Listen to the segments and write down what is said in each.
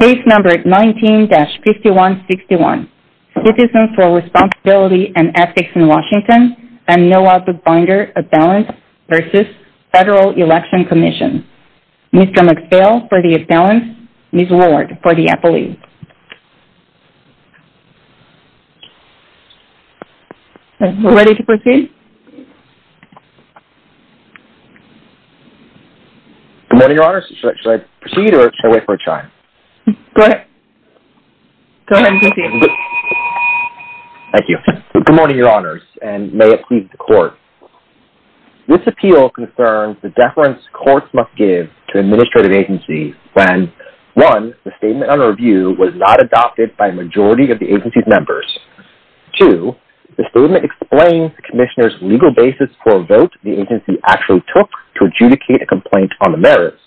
Page number 19-5161 Citizens for Responsibility and Ethics in Washington and Noah Bookbinder Abalance v. Federal Election Commission Mr. McPhail for the Abalance, Ms. Ward for the Appellee Good morning, Your Honors, and may it please the Court. This appeal concerns the deference courts must give to administrative agencies when 1. The statement under review was not adopted by a majority of the agency's members. 2. The statement explains the Commissioner's legal basis for a vote the agency actually took to adjudicate a complaint on the merits.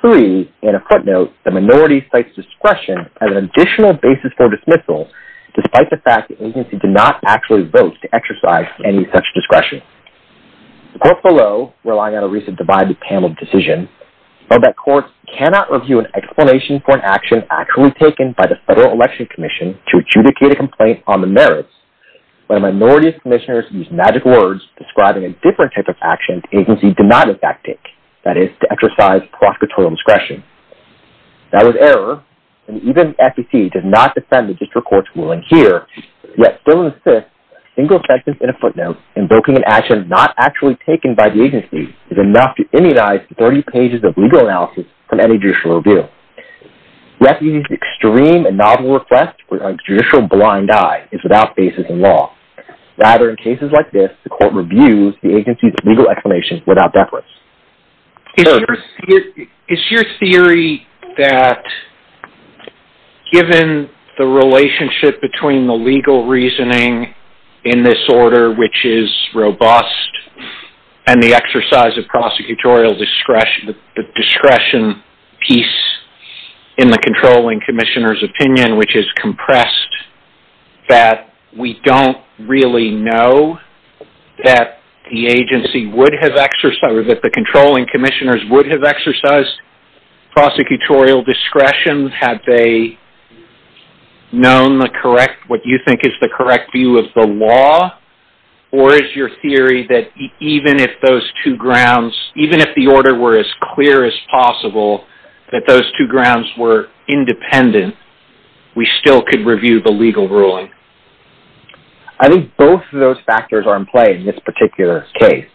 3. In a footnote, the minority cites discretion as an additional basis for dismissal, despite the fact the agency did not actually vote to exercise any such discretion. The Court below, relying on a recent divided panel decision, felt that courts cannot review an explanation for an action actually taken by the Federal Election Commission to adjudicate a complaint on the merits. When a minority of Commissioners used magic words describing a different type of action the agency did not in fact take, that is, to exercise prosecutorial discretion. That was error, and even the FEC does not defend the District Court's ruling here, yet still insists that a single sentence in a footnote invoking an action not actually taken by the agency is enough to indenize 30 pages of legal analysis from any judicial review. Refusing to use extreme and novel requests with a judicial blind eye is without basis in law. Rather, in cases like this, the Court reviews the agency's legal explanations without deference. Is your theory that given the relationship between the legal reasoning in this order, which is robust, and the exercise of prosecutorial discretion piece in the controlling Commissioner's opinion, which is compressed, that we don't really know that the controlling Commissioners would have exercised prosecutorial discretion? Had they known what you think is the correct view of the law? Or is your theory that even if the order were as clear as possible, that those two grounds were independent, we still could review the legal ruling? I think both of those factors are in play in this particular case.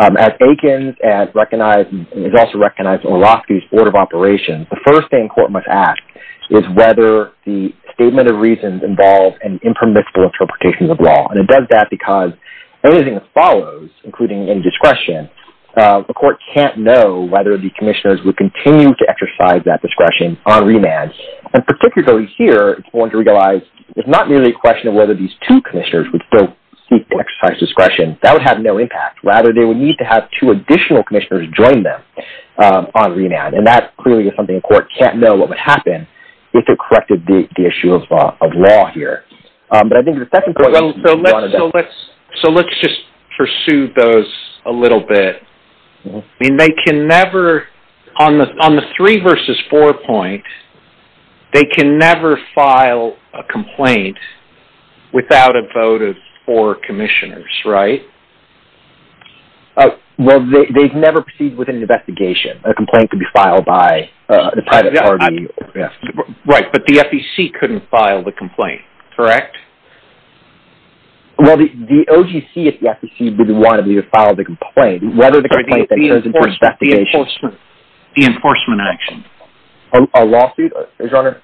As Akins and as is also recognized in Wolofsky's Order of Operations, the first thing the Court must ask is whether the Statement of Reasons involves an impermissible interpretation of law. And it does that because anything that follows, including any discretion, the Court can't know whether the Commissioners would continue to exercise that discretion on remand. And particularly here, it's important to realize it's not merely a question of whether these two Commissioners would still seek to exercise discretion. That would have no impact. Rather, they would need to have two additional Commissioners join them on remand. And that clearly is something the Court can't know what would happen if it corrected the issue of law here. So let's just pursue those a little bit. On the three versus four point, they can never file a complaint without a vote of four Commissioners, right? Well, they've never proceeded with an investigation. A complaint could be filed by the private party. Right, but the FEC couldn't file the complaint, correct? Well, the OGC at the FEC didn't want to file the complaint. The enforcement action. A lawsuit, Your Honor?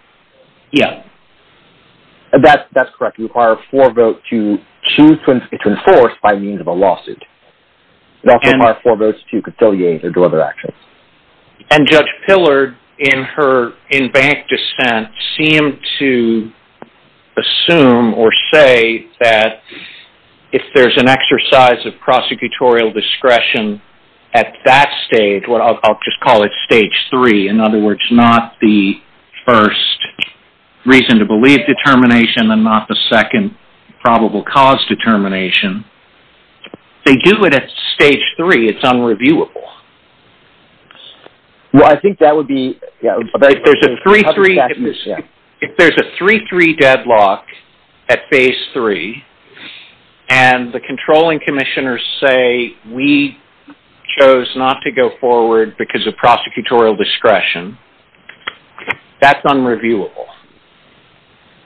Yeah. That's correct. It would require a four vote to choose to enforce by means of a lawsuit. It would also require four votes to conciliate or deliver actions. And Judge Pillard, in her in-bank dissent, seemed to assume or say that if there's an exercise of prosecutorial discretion at that stage, I'll just call it stage three. In other words, not the first reason to believe determination and not the second probable cause determination. They do it at stage three. It's unreviewable. Well, I think that would be... If there's a 3-3 deadlock at phase three, and the controlling Commissioners say, we chose not to go forward because of prosecutorial discretion, that's unreviewable.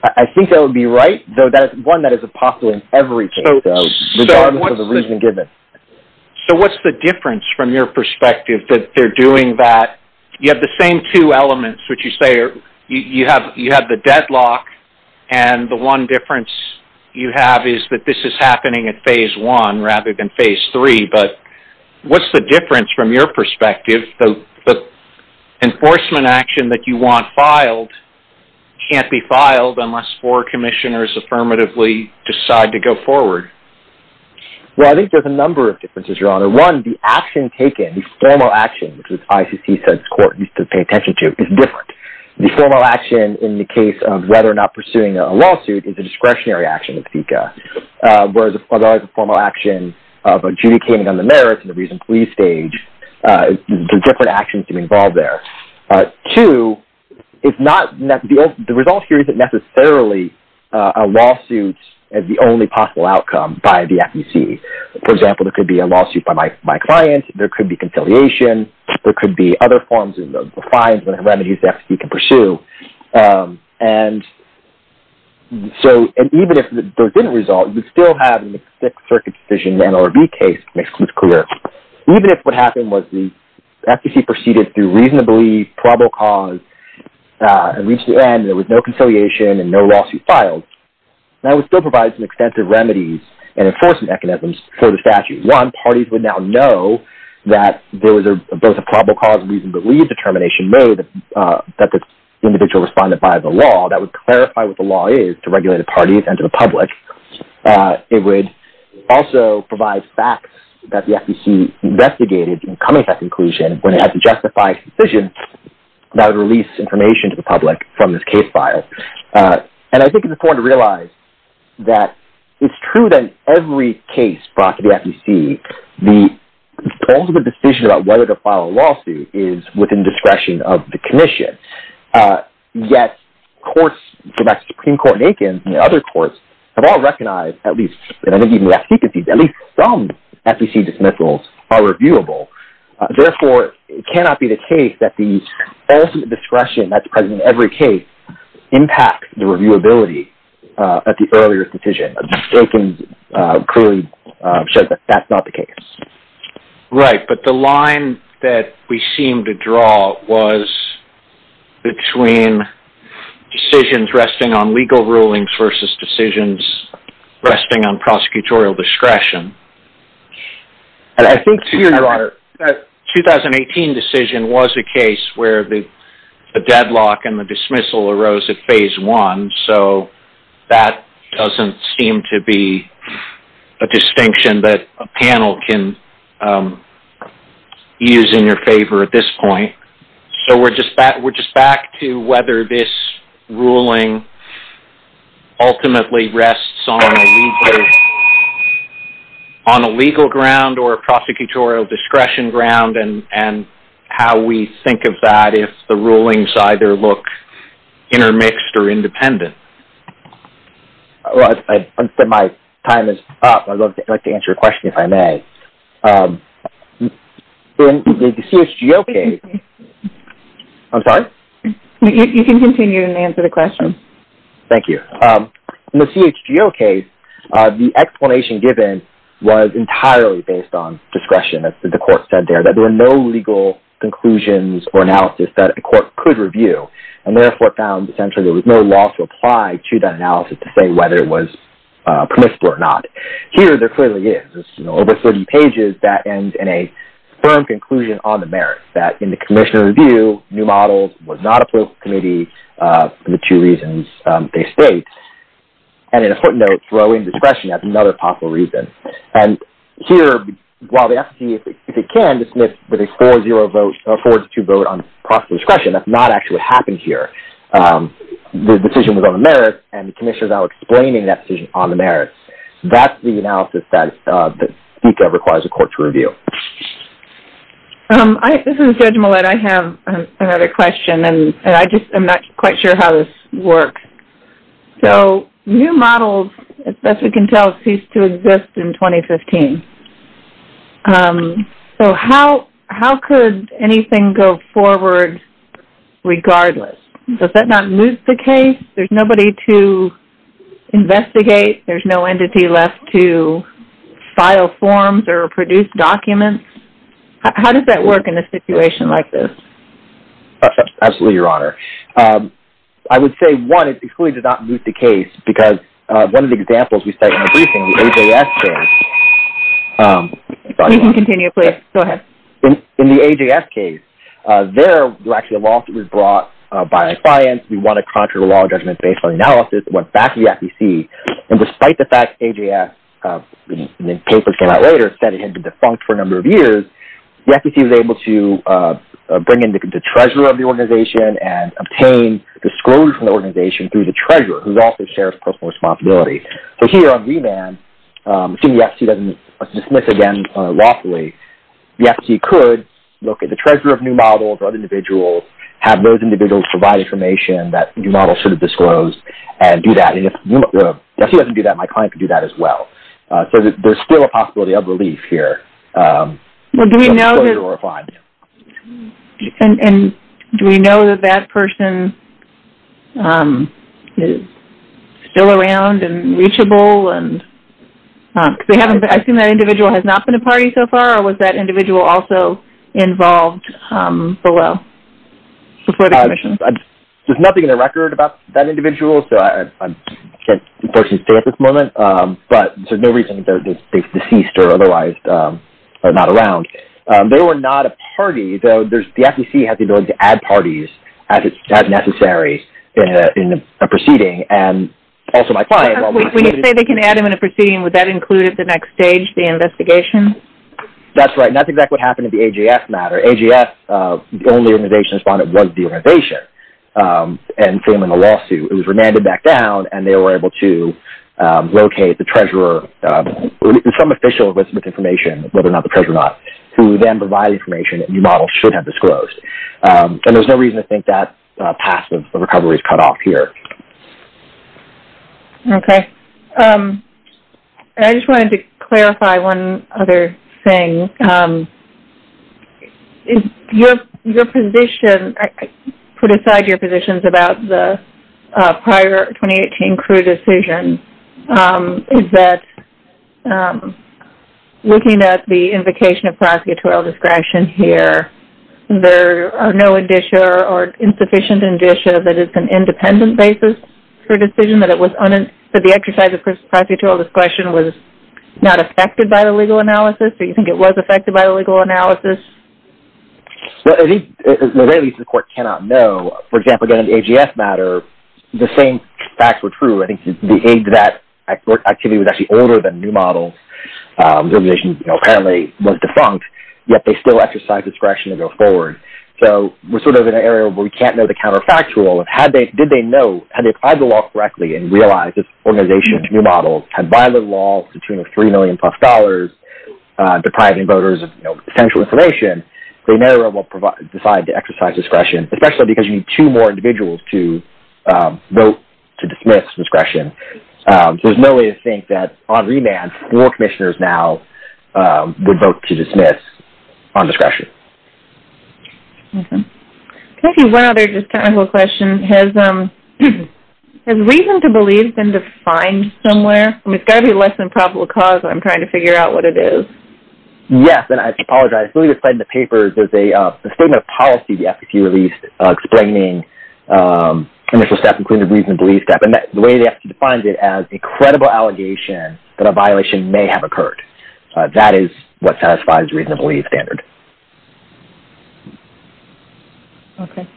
I think that would be right, though that is one that is a popular in every case, regardless of the reason given. So what's the difference from your perspective that they're doing that? You have the same two elements, which you say, you have the deadlock, and the one difference you have is that this is happening at phase one rather than phase three. But what's the difference from your perspective that the enforcement action that you want filed can't be filed unless four Commissioners affirmatively decide to go forward? Well, I think there's a number of differences, Your Honor. One, the action taken, the formal action, which the ICC says court needs to pay attention to, is different. The formal action in the case of whether or not pursuing a lawsuit is a discretionary action of FECA. Whereas a formal action of adjudicating on the merits in the recent police stage, different actions can be involved there. Two, the result here isn't necessarily a lawsuit as the only possible outcome by the FEC. For example, there could be a lawsuit by my client, there could be conciliation, there could be other forms of fines and remedies that the FEC can pursue. And even if there didn't result, you'd still have a mixed-circuit decision in the NLRB case, to make things clear. Even if what happened was the FEC proceeded through reasonably probable cause and reached the end, there was no conciliation and no lawsuit filed, that would still provide some extensive remedies and enforcement mechanisms for the statute. One, parties would now know that there was both a probable cause and reasonably determined determination made that the individual responded by the law, that would clarify what the law is to regulated parties and to the public. It would also provide facts that the FEC investigated in coming to that conclusion when it had to justify a decision that would release information to the public from this case file. And I think it's important to realize that it's true that in every case brought to the FEC, the ultimate decision about whether to file a lawsuit is within discretion of the commission. Yet, courts, Supreme Court and Aiken and other courts, have all recognized at least, and I think even last week, at least some FEC dismissals are reviewable. Therefore, it cannot be the case that the ultimate discretion that's present in every case impacts the reviewability at the earlier decision. Aiken clearly said that that's not the case. Right, but the line that we seem to draw was between decisions resting on legal rulings versus decisions resting on prosecutorial discretion. I think the 2018 decision was a case where the deadlock and the dismissal arose at phase one, so that doesn't seem to be a distinction that a panel can use in your favor at this point. So we're just back to whether this ruling ultimately rests on a legal ground or a prosecutorial discretion ground and how we think of that if the rulings either look intermixed or independent. My time is up. I'd like to answer your question if I may. In the CHGO case, the explanation given was entirely based on discretion. The court said there that there were no legal conclusions or analysis that the court could review, and therefore found essentially there was no law to apply to that analysis to say whether it was permissible or not. Here, there clearly is. There's over 30 pages that end in a firm conclusion on the merits, that in the commission review, new models was not approved by the committee for the two reasons they state. And it's important to throw in discretion as another possible reason. And here, while the FTC, if it can, dismiss with a 4-0 vote or a 4-2 vote on prosecutorial discretion, that's not actually what happened here. The decision was on the merits, and the commission is now explaining that decision on the merits. That's the analysis that requires the court to review. This is Judge Millett. I have another question, and I just am not quite sure how this works. So new models, as best we can tell, ceased to exist in 2015. So how could anything go forward regardless? Does that not move the case? There's nobody to investigate. There's no entity left to file forms or produce documents. How does that work in a situation like this? Absolutely, Your Honor. I would say, one, it's excluded to not move the case, because one of the examples we cite in the briefing, the AJS case... You can continue, please. Go ahead. In the AJS case, there were actually laws that were brought by clients. We want a contrary law judgment based on the analysis. It went back to the FTC. And despite the fact AJS, when the papers came out later, said it had been defunct for a number of years, the FTC was able to bring in the treasurer of the organization and obtain disclosure from the organization through the treasurer, who also shares personal responsibility. So here on remand, assuming the FTC doesn't dismiss again lawfully, the FTC could look at the treasurer of new models or other individuals, have those individuals provide information that new models should have disclosed, and do that. If she doesn't do that, my client could do that as well. So there's still a possibility of relief here. Do we know that that person is still around and reachable? I assume that individual has not been a party so far, or was that individual also involved below, before the commission? There's nothing in the record about that individual, so I can't unfortunately say at this moment. But there's no reason that they're deceased or otherwise not around. They were not a party, though the FTC has the ability to add parties as necessary in a proceeding. And also my client... When you say they can add them in a proceeding, would that include at the next stage the investigation? That's right, and that's exactly what happened in the AJS matter. AJS, the only organization that responded was the organization, and filing a lawsuit. It was remanded back down, and they were able to locate the treasurer, some official with information, whether or not the treasurer or not, who then provided information that new models should have disclosed. And there's no reason to think that path of recovery is cut off here. Okay. I just wanted to clarify one other thing. Your position, put aside your positions about the prior 2018 crew decision, is that looking at the invocation of prosecutorial discretion here, there are no indicia or insufficient indicia that it's an independent basis for a decision, that the exercise of prosecutorial discretion was not affected by the legal analysis? Do you think it was affected by the legal analysis? The way the court cannot know, for example, again, in the AJS matter, the same facts were true. I think the age that activity was actually older than new models, the organization apparently was defunct, yet they still exercised discretion to go forward. So we're sort of in an area where we can't know the counterfactual. Did they know, had they applied the law correctly and realized this organization, new models, had violated the law to the tune of $3 million-plus, depriving voters of potential information, they may or will decide to exercise discretion, especially because you need two more individuals to vote to dismiss discretion. There's no way to think that on remand, four commissioners now would vote to dismiss on discretion. Can I ask you one other just technical question? Has reason to believe been defined somewhere? I mean, it's got to be less than probable cause. I'm trying to figure out what it is. Yes, and I apologize. I believe it's said in the paper, there's a statement of policy the FCC released explaining initial steps, including the reason to believe step. The way the FCC defines it as a credible allegation that a violation may have occurred. That is what satisfies reason to believe standard. Okay.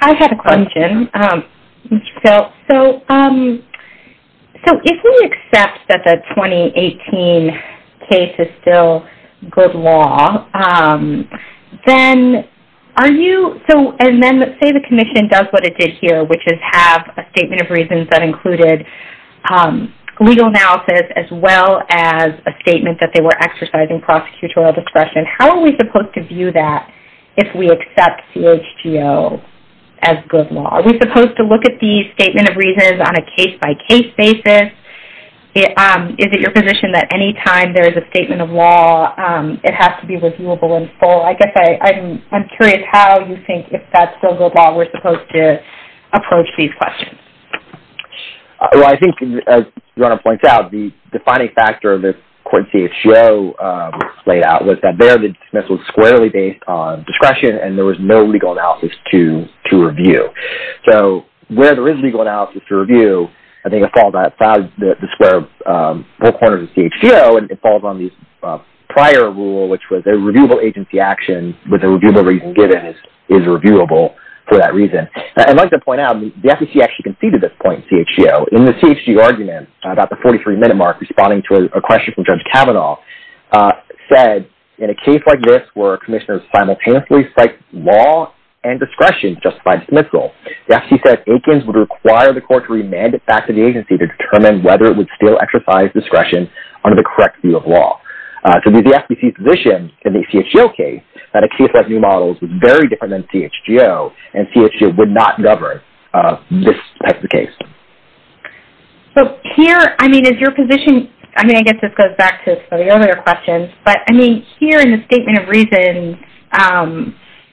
I have a question. So if we accept that the 2018 case is still good law, then are you so And then let's say the commission does what it did here, which is have a statement of reasons that included legal analysis, as well as a statement that they were exercising prosecutorial discretion. How are we supposed to view that if we accept CHGO as good law? Are we supposed to look at these statement of reasons on a case-by-case basis? Is it your position that any time there is a statement of law, it has to be reviewable in full? I guess I'm curious how you think if that's still good law, we're supposed to approach these questions. Well, I think, as Ronna points out, the defining factor of this court CHGO laid out was that there, the dismissal was squarely based on discretion, and there was no legal analysis to review. So where there is legal analysis to review, I think it falls outside the square corners of CHGO, and it falls on the prior rule, which was a reviewable agency action, with a reviewable reason given is reviewable for that reason. I'd like to point out, the FEC actually conceded this point in CHGO. In the CHG argument, about the 43-minute mark, responding to a question from Judge Kavanaugh, said, in a case like this where commissioners simultaneously cite law and discretion to justify dismissal, the FEC said Akins would require the court to remand it back to the agency to determine whether it would still exercise discretion under the correct view of law. So the FEC's position in the CHGO case, that a case like New Models was very different than CHGO, and CHGO would not govern this type of case. So here, I mean, is your position, I mean, I guess this goes back to some of the earlier questions, but, I mean, here in the statement of reason,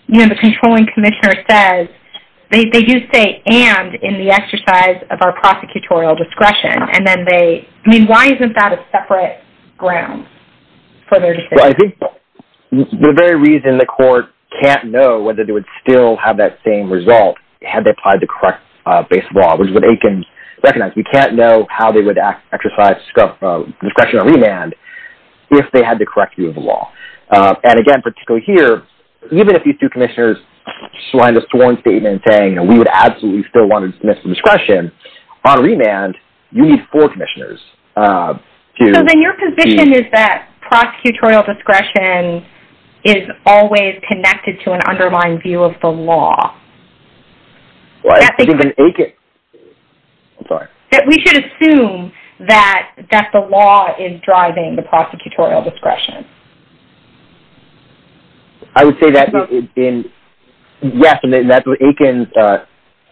you know, the controlling commissioner says, they do say, and in the exercise of our prosecutorial discretion, and then they, I mean, why isn't that a separate ground for their decision? Well, I think the very reason the court can't know whether they would still have that same result had they applied the correct based law, which is what Akins recognized, we can't know how they would exercise discretion or remand if they had the correct view of the law. And again, particularly here, even if these two commissioners, slide us to one statement saying we would absolutely still want to dismiss the discretion, on remand, you need four commissioners. So then your position is that prosecutorial discretion is always connected to an underlying view of the law. We should assume that the law is driving the prosecutorial discretion. I would say that, yes, and that's what Akins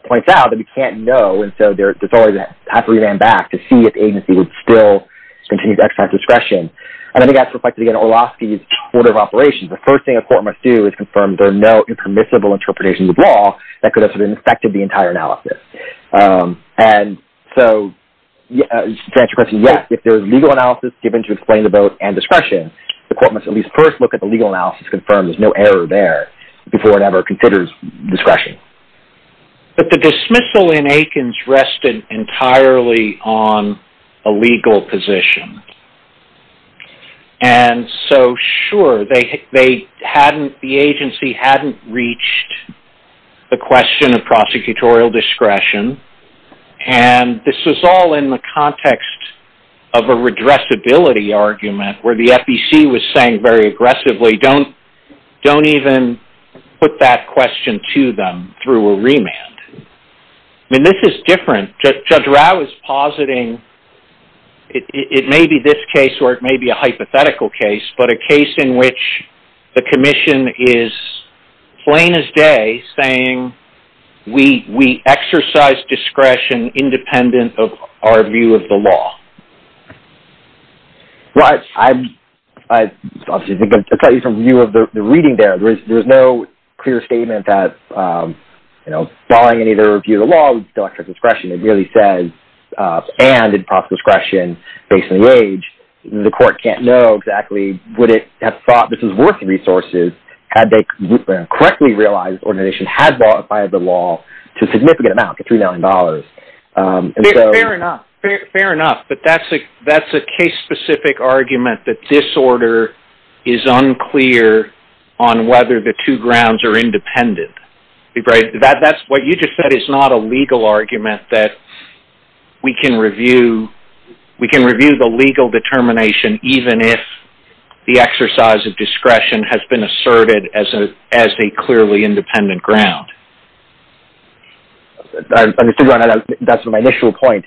points out, that we can't know, and so there's always a path of remand back to see if the agency would still continue to exercise discretion. And I think that's reflected again in Orlowski's order of operations. The first thing a court must do is confirm there are no impermissible interpretations of law that could have sort of infected the entire analysis. And so to answer your question, yes, if there is legal analysis given to explain the vote and discretion, the court must at least first look at the legal analysis to confirm there's no error there before it ever considers discretion. But the dismissal in Akins rested entirely on a legal position. And so, sure, the agency hadn't reached the question of prosecutorial discretion, and this was all in the context of a redressability argument where the FEC was saying very aggressively, don't even put that question to them through a remand. I mean, this is different. Judge Rau is positing it may be this case or it may be a hypothetical case, but a case in which the commission is plain as day saying we exercise discretion independent of our view of the law. I'll tell you from view of the reading there, there's no clear statement that, you know, following any other view of the law, we still exercise discretion. It merely says, and in proper discretion, based on the age, the court can't know exactly would it have thought this was worth the resources had they correctly realized this organization had qualified the law to a significant amount, like $3 million. Fair enough. Fair enough. But that's a case-specific argument that this order is unclear on whether the two grounds are independent. What you just said is not a legal argument that we can review the legal determination even if the exercise of discretion has been asserted as a clearly independent ground. I'm assuming that's my initial point.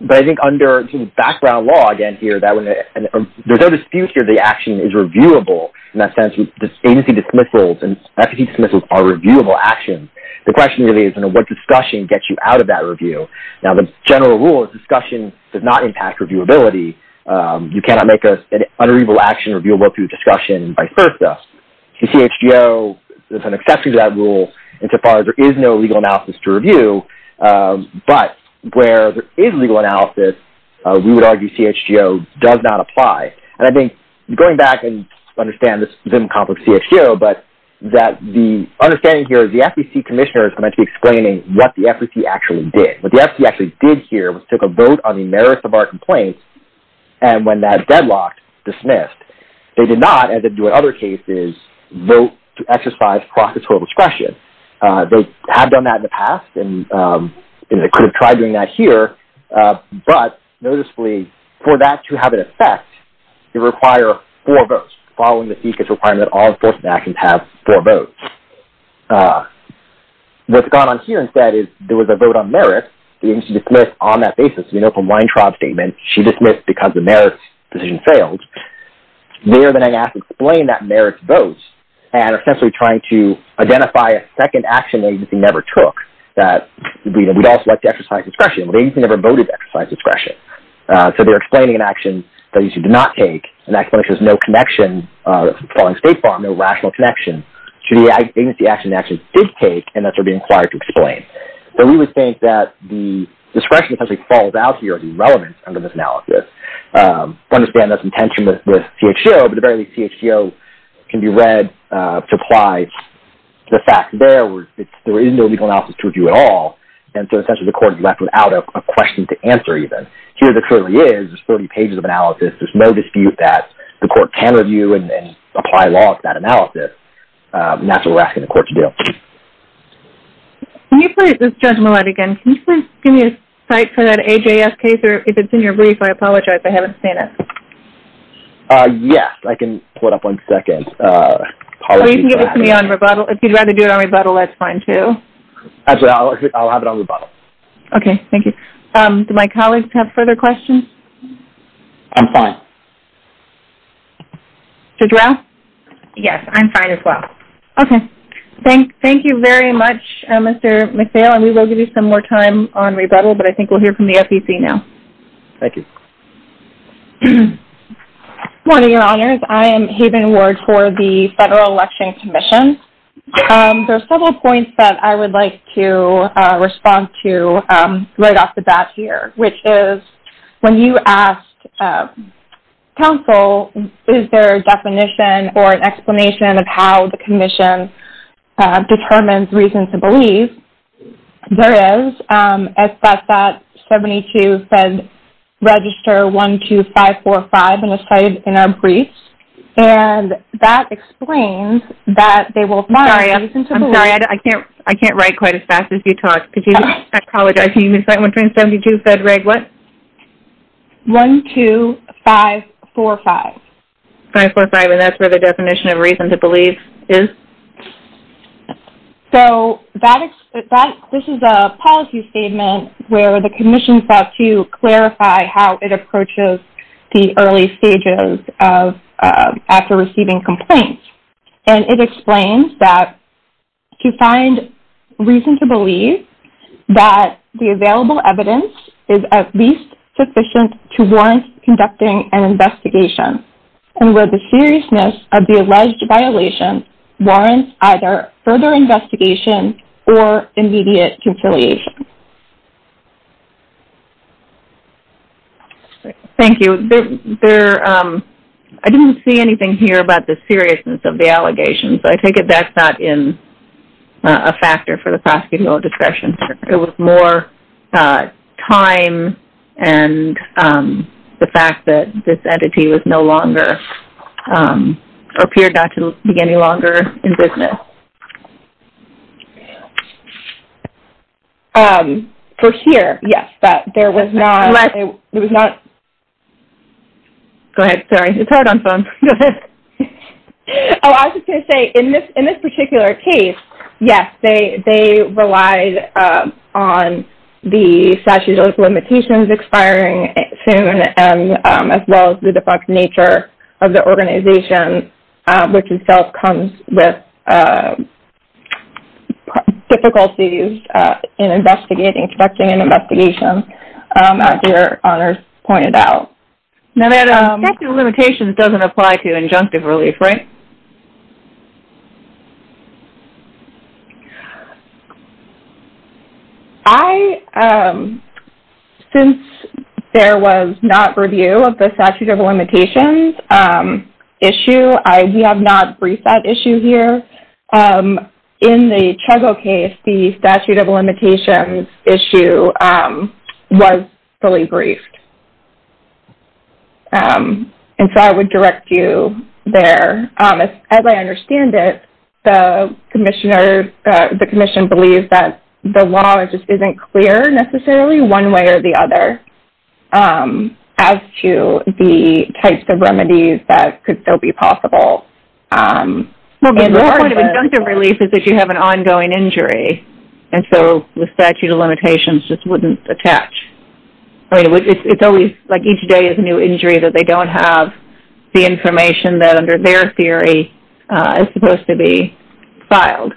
But I think under background law, again, here, there's no dispute here the action is reviewable. In that sense, agency dismissals and efficacy dismissals are reviewable actions. The question really is what discussion gets you out of that review? Now, the general rule is discussion does not impact reviewability. You cannot make an unreviewable action reviewable through discussion by FIRSA. The CHGO is an exception to that rule insofar as there is no legal analysis to review. But where there is legal analysis, we would argue CHGO does not apply. And I think going back and understand this is a bit of a complex CHGO, but the understanding here is the FEC commissioners are meant to be explaining what the FEC actually did. What the FEC actually did here was took a vote on the merits of our complaints, and when that deadlocked, dismissed. They did not, as they do in other cases, vote to exercise prosecutorial discretion. They have done that in the past, and they could have tried doing that here. But noticeably, for that to have an effect, it would require four votes. Following the FECA's requirement, all enforcement actions have four votes. What's gone on here instead is there was a vote on merits. The agency dismissed on that basis. As we know from Weintraub's statement, she dismissed because the merits decision failed. They are then asked to explain that merits vote, and are essentially trying to identify a second action the agency never took, that we'd also like to exercise discretion, but the agency never voted to exercise discretion. So they're explaining an action the agency did not take, and that explanation has no connection following State Farm, no rational connection, to the agency action the agency did take and that they're being required to explain. So we would think that the discretion essentially falls out here of the relevance under this analysis. I understand there's some tension with CHTO, but at the very least, CHTO can be read to apply the facts there. There is no legal analysis to review at all, and so essentially the court is left without a question to answer even. Here there clearly is. There's 40 pages of analysis. There's no dispute that the court can review and apply law to that analysis, and that's what we're asking the court to do. Can you put this judgment again? Can you please give me a cite for that AJS case, or if it's in your brief, I apologize. I haven't seen it. Yes, I can pull it up in a second. Or you can give it to me on rebuttal. If you'd rather do it on rebuttal, that's fine too. Actually, I'll have it on rebuttal. Okay, thank you. Do my colleagues have further questions? I'm fine. Judge Rouse? Yes, I'm fine as well. Okay, thank you very much, Mr. McPhail, and we will give you some more time on rebuttal, but I think we'll hear from the FEC now. Thank you. Good morning, Your Honors. I am Haven Ward for the Federal Election Commission. There are several points that I would like to respond to right off the bat here, which is when you asked counsel, is there a definition or an explanation of how the commission determines reasons to believe? There is. It's got that 72 Fed Register 12545 in a cite in our brief, and that explains that they will find reasons to believe. I'm sorry. I can't write quite as fast as you talk. I apologize. Can you recite 1272 Fed Reg what? 12545. 545, and that's where the definition of reason to believe is? So this is a policy statement where the commission sought to clarify how it approaches the early stages after receiving complaints, that the available evidence is at least sufficient to warrant conducting an investigation, and where the seriousness of the alleged violation warrants either further investigation or immediate conciliation. Thank you. I didn't see anything here about the seriousness of the allegations. I take it that's not a factor for the prosecutorial discretion. It was more time and the fact that this entity was no longer, or appeared not to be any longer in business. For here, yes, but there was not. Go ahead. Sorry. It's hard on phones. I was just going to say, in this particular case, yes, they relied on the statute of limitations expiring soon, as well as the defunct nature of the organization, which itself comes with difficulties in conducting an investigation, as your honors pointed out. Statute of limitations doesn't apply to injunctive relief, right? I, since there was not review of the statute of limitations issue, we have not briefed that issue here. In the Trego case, the statute of limitations issue was fully briefed. And so I would direct you there. As I understand it, the commissioner, the commission believes that the law just isn't clear necessarily one way or the other as to the types of remedies that could still be possible. Well, the point of injunctive relief is that you have an ongoing injury. And so the statute of limitations just wouldn't attach. I mean, it's always, like, each day is a new injury, that they don't have the information that, under their theory, is supposed to be filed.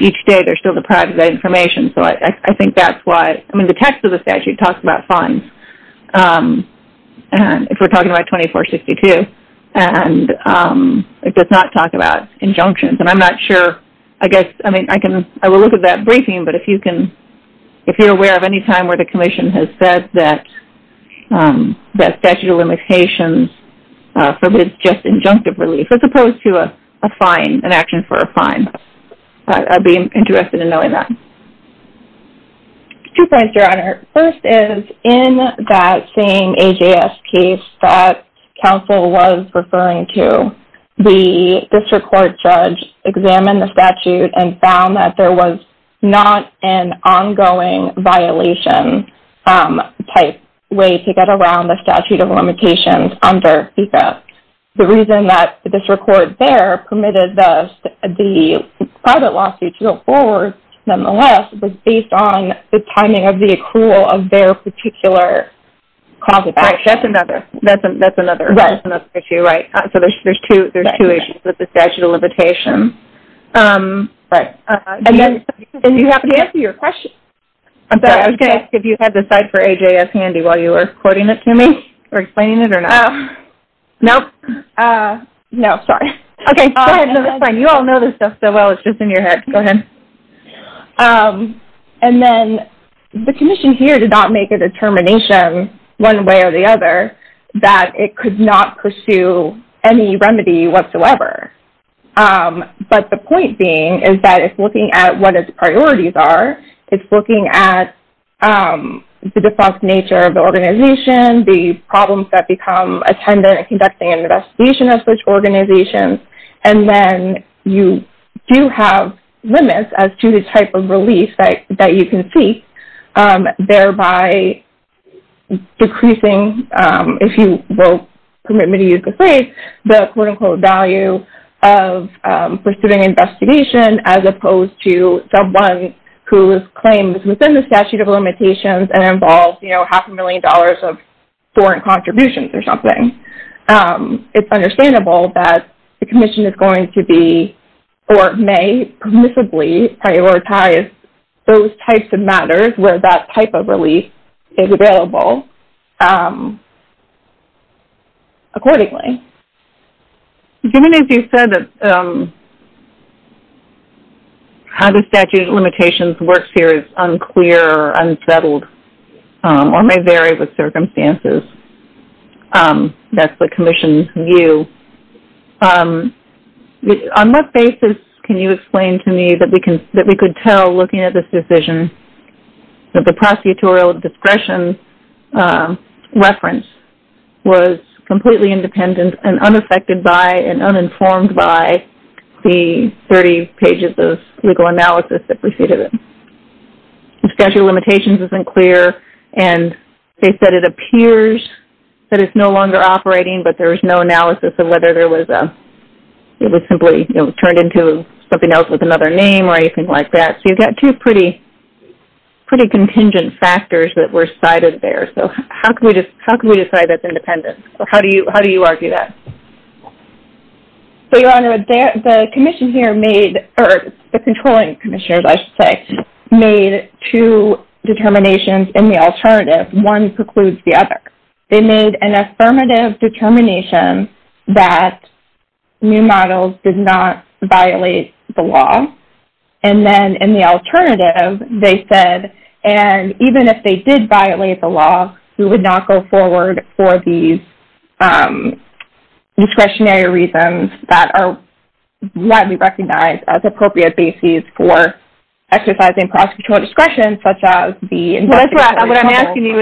Each day, there's still the private information. So I think that's why, I mean, the text of the statute talks about fines, if we're talking about 2462, and it does not talk about injunctions. And I'm not sure, I guess, I mean, I can, I will look at that briefing, but if you can, if you're aware of any time where the commission has said that statute of limitations forbids just injunctive relief, as opposed to a fine, an action for a fine, Two points, Your Honor. First is, in that same AJS case that counsel was referring to, the district court judge examined the statute and found that there was not an ongoing violation-type way to get around the statute of limitations under FISA. The reason that the district court there permitted the private lawsuit to go forward, nonetheless, was based on the timing of the accrual of their particular cause of action. Right, that's another issue, right. So there's two issues with the statute of limitations. Right. And you have to answer your question. I'm sorry, I was going to ask if you had this slide for AJS handy while you were quoting it to me, or explaining it, or not. Nope. No, sorry. Okay, go ahead. No, it's fine. You all know this stuff so well, it's just in your head. Go ahead. And then the commission here did not make a determination, one way or the other, that it could not pursue any remedy whatsoever. But the point being is that it's looking at what its priorities are, it's looking at the defunct nature of the organization, the problems that become attendant in conducting an investigation of such organizations, and then you do have limits as to the type of relief that you can seek, thereby decreasing, if you will permit me to use the phrase, the quote-unquote value of pursuing an investigation, as opposed to someone whose claim is within the statute of limitations and involves half a million dollars of foreign contributions or something. It's understandable that the commission is going to be, or may permissibly prioritize those types of matters where that type of relief is available accordingly. Given, as you said, how the statute of limitations works here is unclear, unsettled, or may vary with circumstances. That's the commission's view. On what basis can you explain to me that we could tell, looking at this decision, that the prosecutorial discretion reference was completely independent and unaffected by and uninformed by the 30 pages of legal analysis that preceded it? The statute of limitations isn't clear, and they said it appears that it's no longer operating, but there was no analysis of whether it was simply turned into something else with another name or anything like that. So you've got two pretty contingent factors that were cited there. So how can we decide that's independent? How do you argue that? So, Your Honor, the commission here made, or the controlling commissioners, I should say, made two determinations in the alternative. One precludes the other. They made an affirmative determination that new models did not violate the law, and then in the alternative, they said, and even if they did violate the law, we would not go forward for these discretionary reasons that are widely recognized as appropriate bases for exercising prosecutorial discretion, such as the investigation. What I'm asking you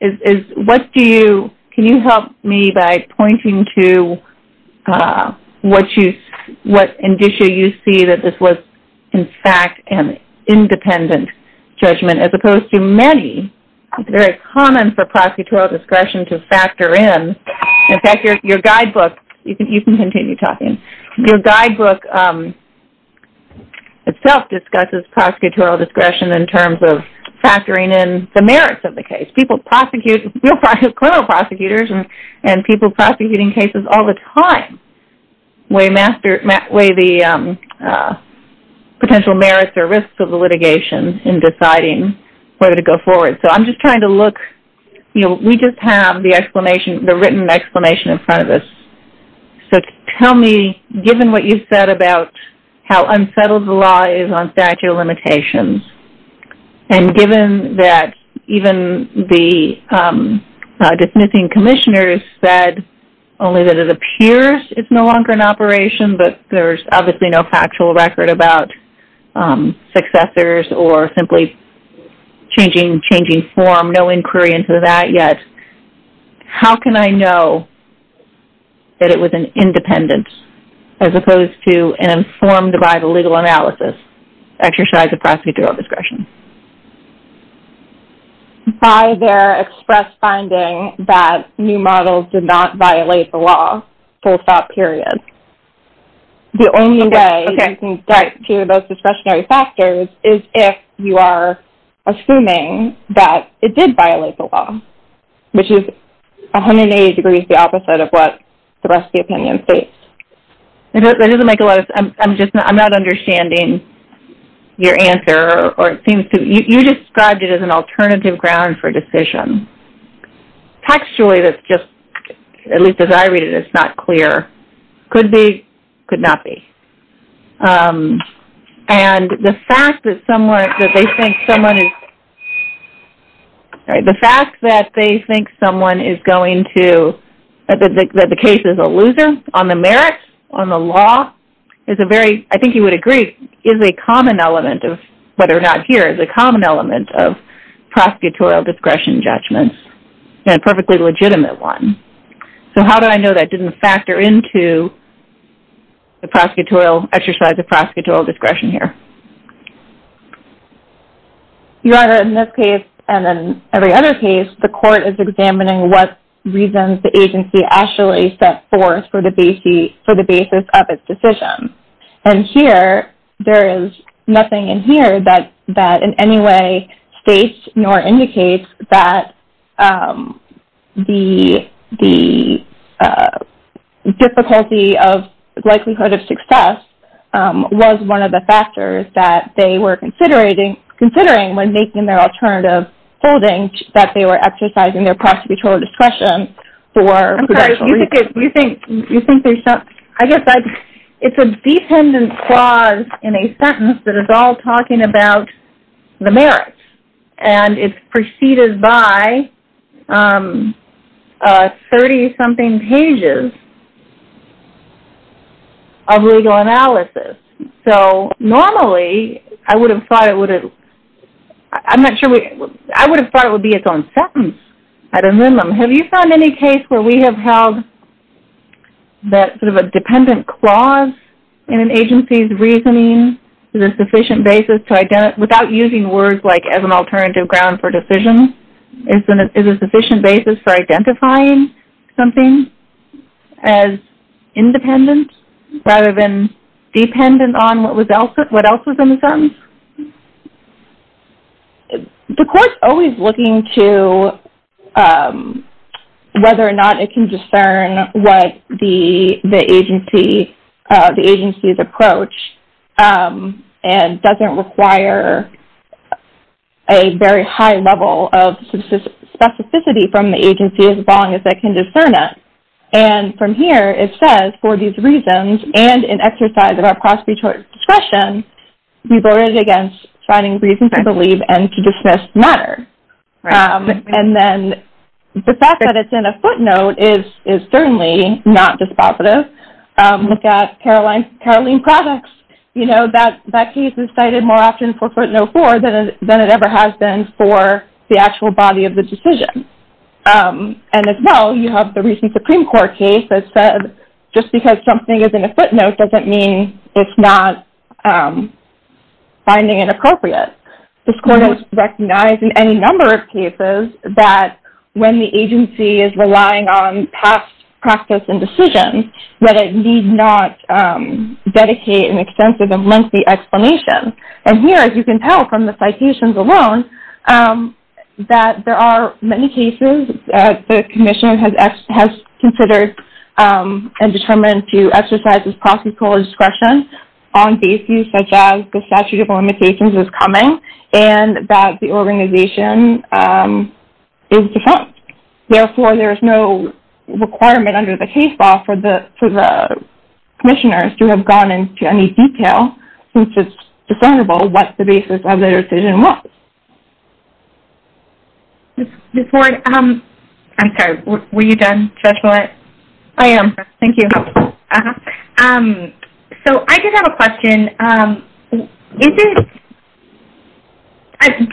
is what do you, can you help me by pointing to what you, what indicia you see that this was in fact an independent judgment, as opposed to many. It's very common for prosecutorial discretion to factor in. In fact, your guidebook, you can continue talking. Your guidebook itself discusses prosecutorial discretion in terms of factoring in the merits of the case. People prosecute, criminal prosecutors and people prosecuting cases all the time weigh the potential merits or risks of the litigation in deciding whether to go forward. So I'm just trying to look, you know, we just have the written explanation in front of us. So tell me, given what you said about how unsettled the law is on statute of limitations, and given that even the dismissing commissioners said only that it appears it's no longer in operation, but there's obviously no factual record about successors or simply changing form, no inquiry into that yet. How can I know that it was an independent, as opposed to an informed by the legal analysis exercise of prosecutorial discretion? By their express finding that new models did not violate the law, full stop, period. The only way you can get to those discretionary factors is if you are assuming that it did violate the law, which is 180 degrees the opposite of what the rest of the opinion states. That doesn't make a lot of sense. I'm not understanding your answer. You described it as an alternative ground for decision. Textually, at least as I read it, it's not clear. Could be, could not be. And the fact that they think someone is going to, that the case is a loser on the merits, on the law, is a very, I think you would agree, is a common element of, whether or not here, is a common element of prosecutorial discretion judgments and perfectly legitimate one. So how do I know that didn't factor into the prosecutorial exercise of prosecutorial discretion here? Your Honor, in this case, and then every other case, the court is examining what reasons the agency actually set forth for the basis of its decision. And here, there is nothing in here that in any way states nor indicates that the difficulty of likelihood of success was one of the factors that they were considering when making their alternative holding, that they were exercising their prosecutorial discretion for. I'm sorry, you think there's some, I guess, it's a defendant clause in a sentence that is all talking about the merits. And it's preceded by 30-something pages of legal analysis. So normally, I would have thought it would have, I'm not sure, I would have thought it would be its own sentence at a minimum. Have you found any case where we have held that sort of a dependent clause in an agency's reasoning is a sufficient basis to, without using words like as an alternative ground for decision, is a sufficient basis for identifying something as independent rather than dependent on what else was in the sentence? The court's always looking to whether or not it can discern what the agency's approach and doesn't require a very high level of specificity from the agency as long as they can discern it. And from here, it says for these reasons and in exercise of our finding reasons to believe and to dismiss matter. And then the fact that it's in a footnote is certainly not dispositive. Look at Caroline Products. You know, that case is cited more often for footnote four than it ever has been for the actual body of the decision. And as well, you have the recent Supreme Court case that said just because something is in a footnote doesn't mean it's not finding it appropriate. This court has recognized in any number of cases that when the agency is relying on past practice and decisions that it need not dedicate an extensive and lengthy explanation. And here, as you can tell from the citations alone, that there are many cases that the commission has considered and determined to exercise as practical discretion on these issues such as the statute of limitations is coming and that the organization is defunct. Therefore, there is no requirement under the case law for the commissioners to have gone into any detail since it's discernible what the basis of their decision was. Ms. Ward, I'm sorry. Were you done, Judge Millett? I am. Thank you. So I did have a question. Do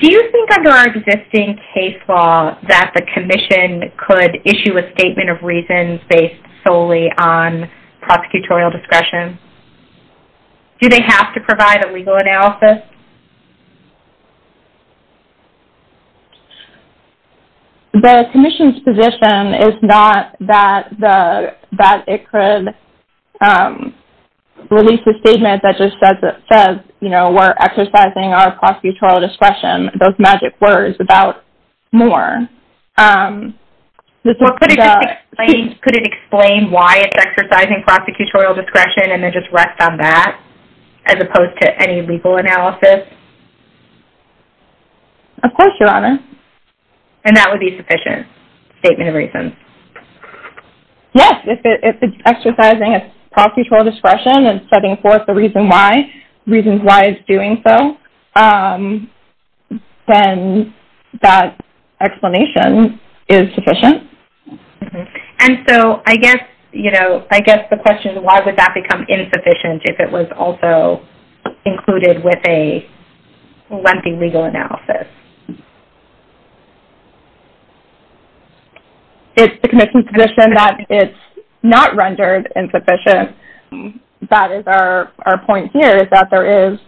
you think under our existing case law that the commission could issue a statement of reasons based solely on prosecutorial discretion? Do they have to provide a legal analysis? The commission's position is not that it could release a statement that just says, you know, we're exercising our prosecutorial discretion, those magic words, without more. Could it explain why it's exercising prosecutorial discretion and then just rest on that as opposed to any legal analysis? Of course, Your Honor. And that would be sufficient statement of reasons? Yes. If it's exercising its prosecutorial discretion and setting forth the reason why, reasons why it's doing so, then that explanation is sufficient. And so I guess, you know, I guess the question is why would that become insufficient if it was also included with a lengthy legal analysis? It's the commission's position that it's not rendered insufficient. That is our point here is that there is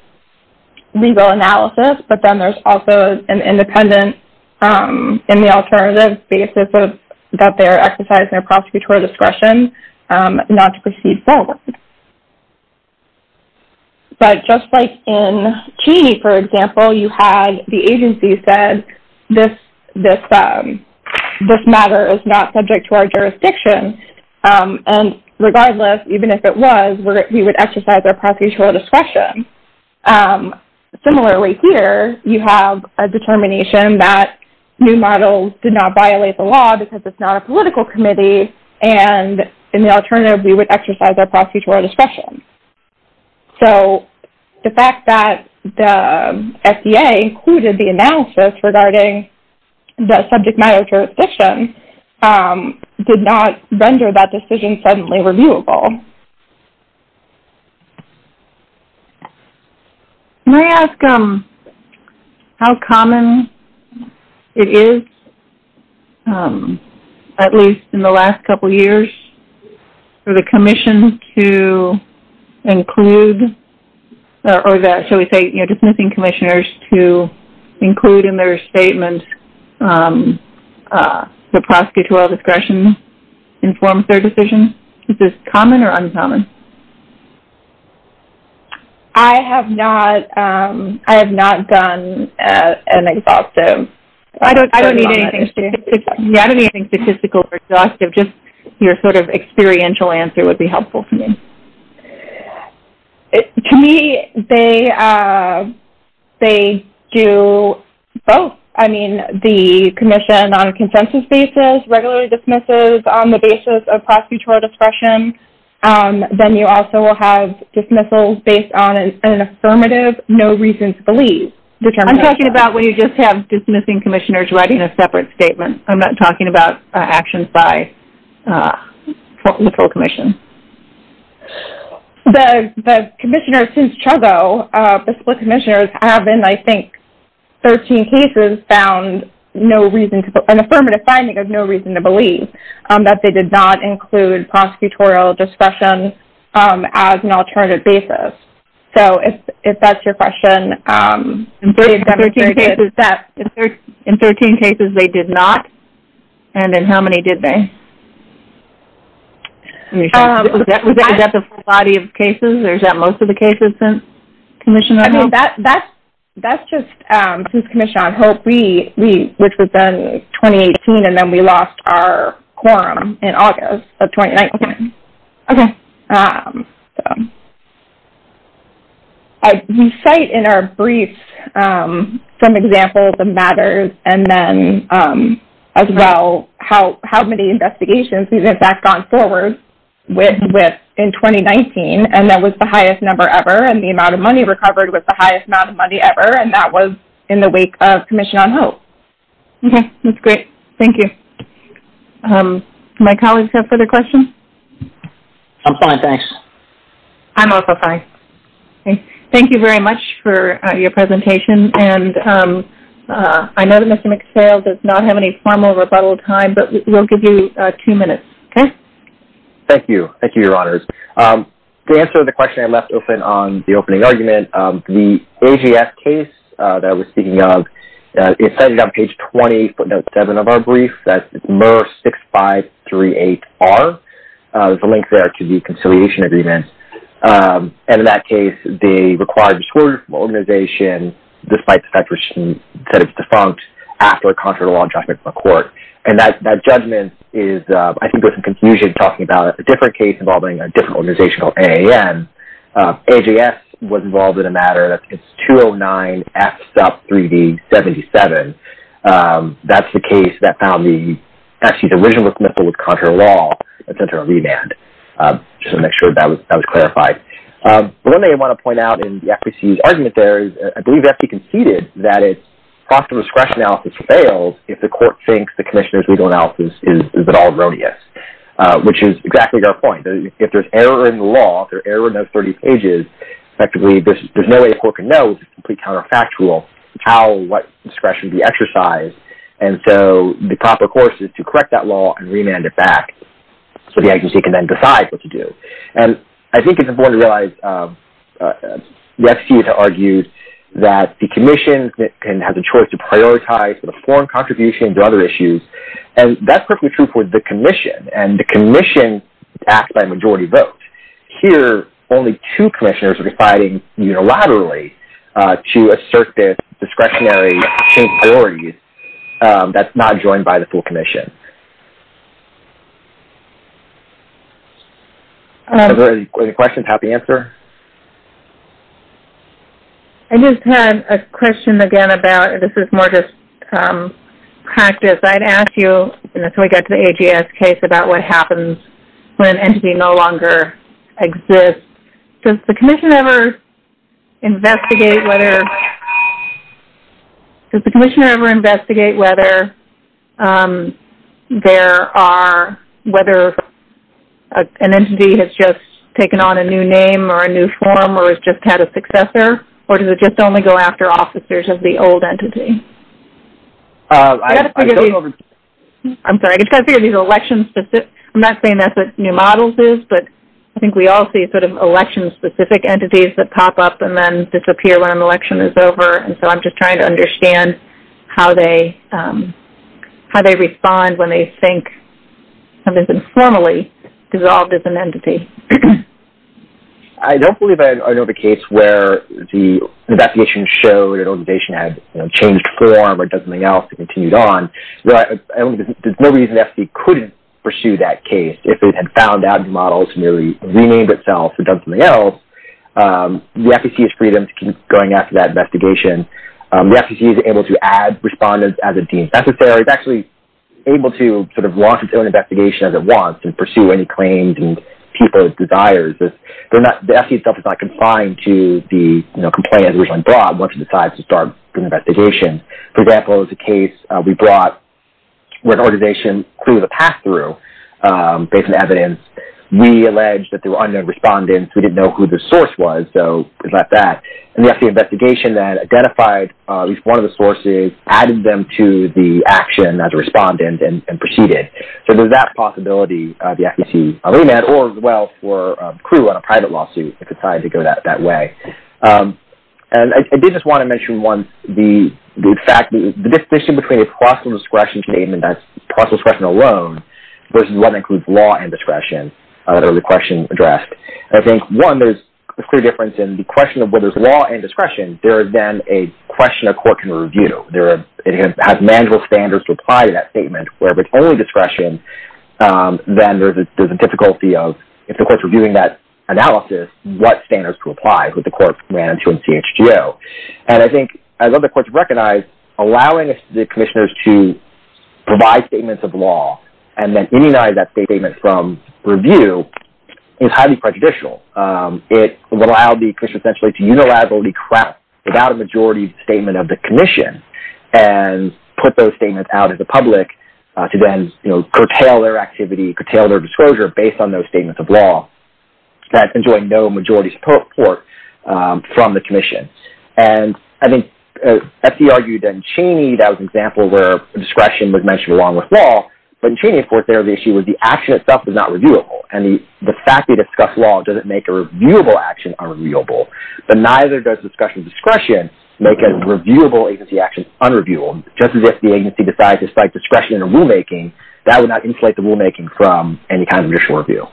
legal analysis, but then there's also an independent in the alternative basis that they're exercising their prosecutorial discretion not to proceed forward. But just like in Cheney, for example, you had the agency said, this matter is not subject to our jurisdiction. And regardless, even if it was, we would exercise our prosecutorial discretion. Similarly here, you have a determination that new models did not violate the law because it's not a political committee, and in the alternative we would exercise our prosecutorial discretion. So the fact that the FDA included the analysis regarding the subject matter jurisdiction did not render that decision suddenly reviewable. Okay. Can I ask how common it is, at least in the last couple years, for the commission to include or that, shall we say, dismissing commissioners to include in their statement the prosecutorial discretion that informs their decision? Is this common or uncommon? I have not done an exhaustive study on it. I don't need anything statistical or exhaustive. Just your sort of experiential answer would be helpful to me. To me, they do both. I mean, the commission on a consensus basis regularly dismisses on the basis of prosecutorial discretion. Then you also will have dismissals based on an affirmative, no reason to believe. I'm talking about when you just have dismissing commissioners writing a separate statement. I'm not talking about actions by the full commission. The commissioners since Truggo, the split commissioners, have in, I think, 13 cases, found an affirmative finding of no reason to believe that they did not include prosecutorial discretion as an alternative basis. So if that's your question. In 13 cases, they did not. And in how many did they? Was that the full body of cases? Or is that most of the cases since commission on hope? That's just since commission on hope, which was then 2018, and then we lost our quorum in August of 2019. Okay. We cite in our briefs some examples of matters, and then as well how many investigations we've in fact gone forward with in 2019, and that was the highest number ever, and the amount of money recovered was the highest amount of money ever, and that was in the wake of commission on hope. Okay. That's great. Thank you. My colleagues have further questions? I'm fine, thanks. I'm also fine. Thank you very much for your presentation. And I know that Mr. McPhail does not have any formal rebuttal time, but we'll give you two minutes, okay? Thank you. Thank you, Your Honors. To answer the question I left open on the opening argument, the AGF case that I was speaking of is cited on page 20, footnote 7 of our brief, that's MR6538R. There's a link there to the conciliation agreement. And in that case, the required disorder organization, despite the fact that it's defunct after a contrary law judgment from a court, and that judgment is I think there's some confusion talking about it. It's a different case involving a different organization called AAM. AGF was involved in a matter, that's 209F.3D77. That's the case that found the original missile with contrary law, just to make sure that was clarified. One thing I want to point out in the FPC's argument there, I believe the FPC conceded that its process of discretion analysis fails if the court thinks the commissioner's legal analysis is at all erroneous, which is exactly our point. If there's error in the law, if there's error in those 30 pages, effectively there's no way a court can know, it's a complete counterfactual how or what discretion be exercised. And so the proper course is to correct that law and remand it back so the agency can then decide what to do. And I think it's important to realize, the FPC has argued that the commission can have the choice to prioritize the foreign contribution to other issues, and that's perfectly true for the commission, and the commission acts by majority vote. Here, only two commissioners are deciding unilaterally to assert their discretionary change priorities. That's not joined by the full commission. Are there any questions? Happy to answer. I just had a question again about, this is more just practice. I'd ask you, until we get to the AGS case, about what happens when an entity no longer exists. Does the commission ever investigate whether there are, whether an entity has just taken on a new name or a new form or has just had a successor, or does it just only go after officers of the old entity? I'm sorry, I just got to figure these elections. I'm not saying that's what New Models is, but I think we all see sort of election-specific entities that pop up and then disappear when an election is over, and so I'm just trying to understand how they respond when they think something's informally dissolved as an entity. I don't believe I know of a case where the investigation showed an organization had changed form or does something else and continued on. There's no reason the FDC couldn't pursue that case if it had found out New Models merely renamed itself and done something else. The FDC has freedom to keep going after that investigation. The FDC is able to add respondents as it deems necessary. It's actually able to sort of launch its own investigation as it wants and pursue any claims and people's desires. The FDC itself is not complying to the complaint it originally brought once it decides to start an investigation. For example, there's a case we brought where an organization clearly has a pass-through based on evidence. We alleged that there were unknown respondents. We didn't know who the source was, so we left that. And we have the investigation that identified at least one of the sources, added them to the action as a respondent, and proceeded. So there's that possibility the FDC remade, or as well for a clue on a private lawsuit if it decided to go that way. And I did just want to mention once the fact that the distinction between a possible discretion statement, that's possible discretion alone, versus what includes law and discretion, the question addressed. I think, one, there's a clear difference in the question of whether it's law and discretion. There is then a question a court can review. It has manual standards to apply to that statement, where if it's only discretion, then there's a difficulty of, if the court's reviewing that analysis, what standards to apply, what the court ran into in CHGO. And I think, as other courts have recognized, allowing the commissioners to provide statements of law and then immunize that statement from review is highly prejudicial. It would allow the commission essentially to unilaterally craft without a majority statement of the commission and put those statements out to the public to then curtail their activity, curtail their disclosure based on those statements of law. That's enjoying no majority support from the commission. And I think, as he argued in Cheney, that was an example where discretion was mentioned along with law. But in Cheney, of course, there was the issue where the action itself was not reviewable. And the fact they discussed law doesn't make a reviewable action unreviewable. But neither does discussion of discretion make a reviewable agency action unreviewable. Just as if the agency decides to cite discretion in a rulemaking, that would not insulate the rulemaking from any kind of judicial review.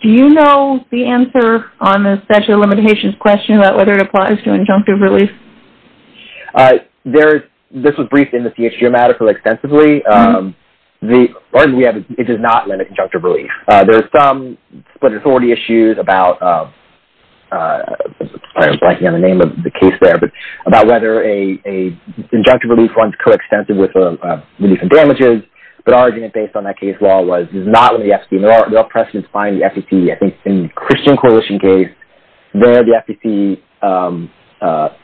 Do you know the answer on the statute of limitations question about whether it applies to injunctive relief? This was briefed in the CHG matter extensively. The argument we have is it does not limit injunctive relief. There are some split authority issues about whether an injunctive relief runs coextensive with relief and damages. But our argument based on that case law was it does not limit the FTC. There are precedents behind the FTC. I think in the Christian Coalition case, there the FTC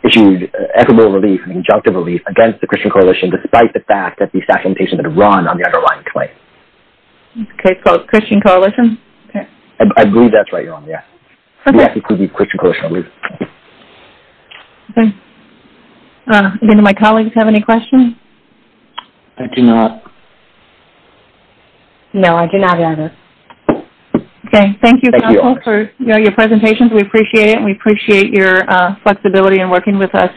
issued equitable relief, injunctive relief, against the Christian Coalition, despite the fact that the statute of limitations had run on the underlying claim. Okay. It's called Christian Coalition? I believe that's right, Your Honor. Yes. Okay. The FTC could be Christian Coalition, I believe. Okay. Do my colleagues have any questions? I do not. No, I do not either. Okay. Thank you, counsel, for your presentations. We appreciate it, and we appreciate your flexibility in working with us.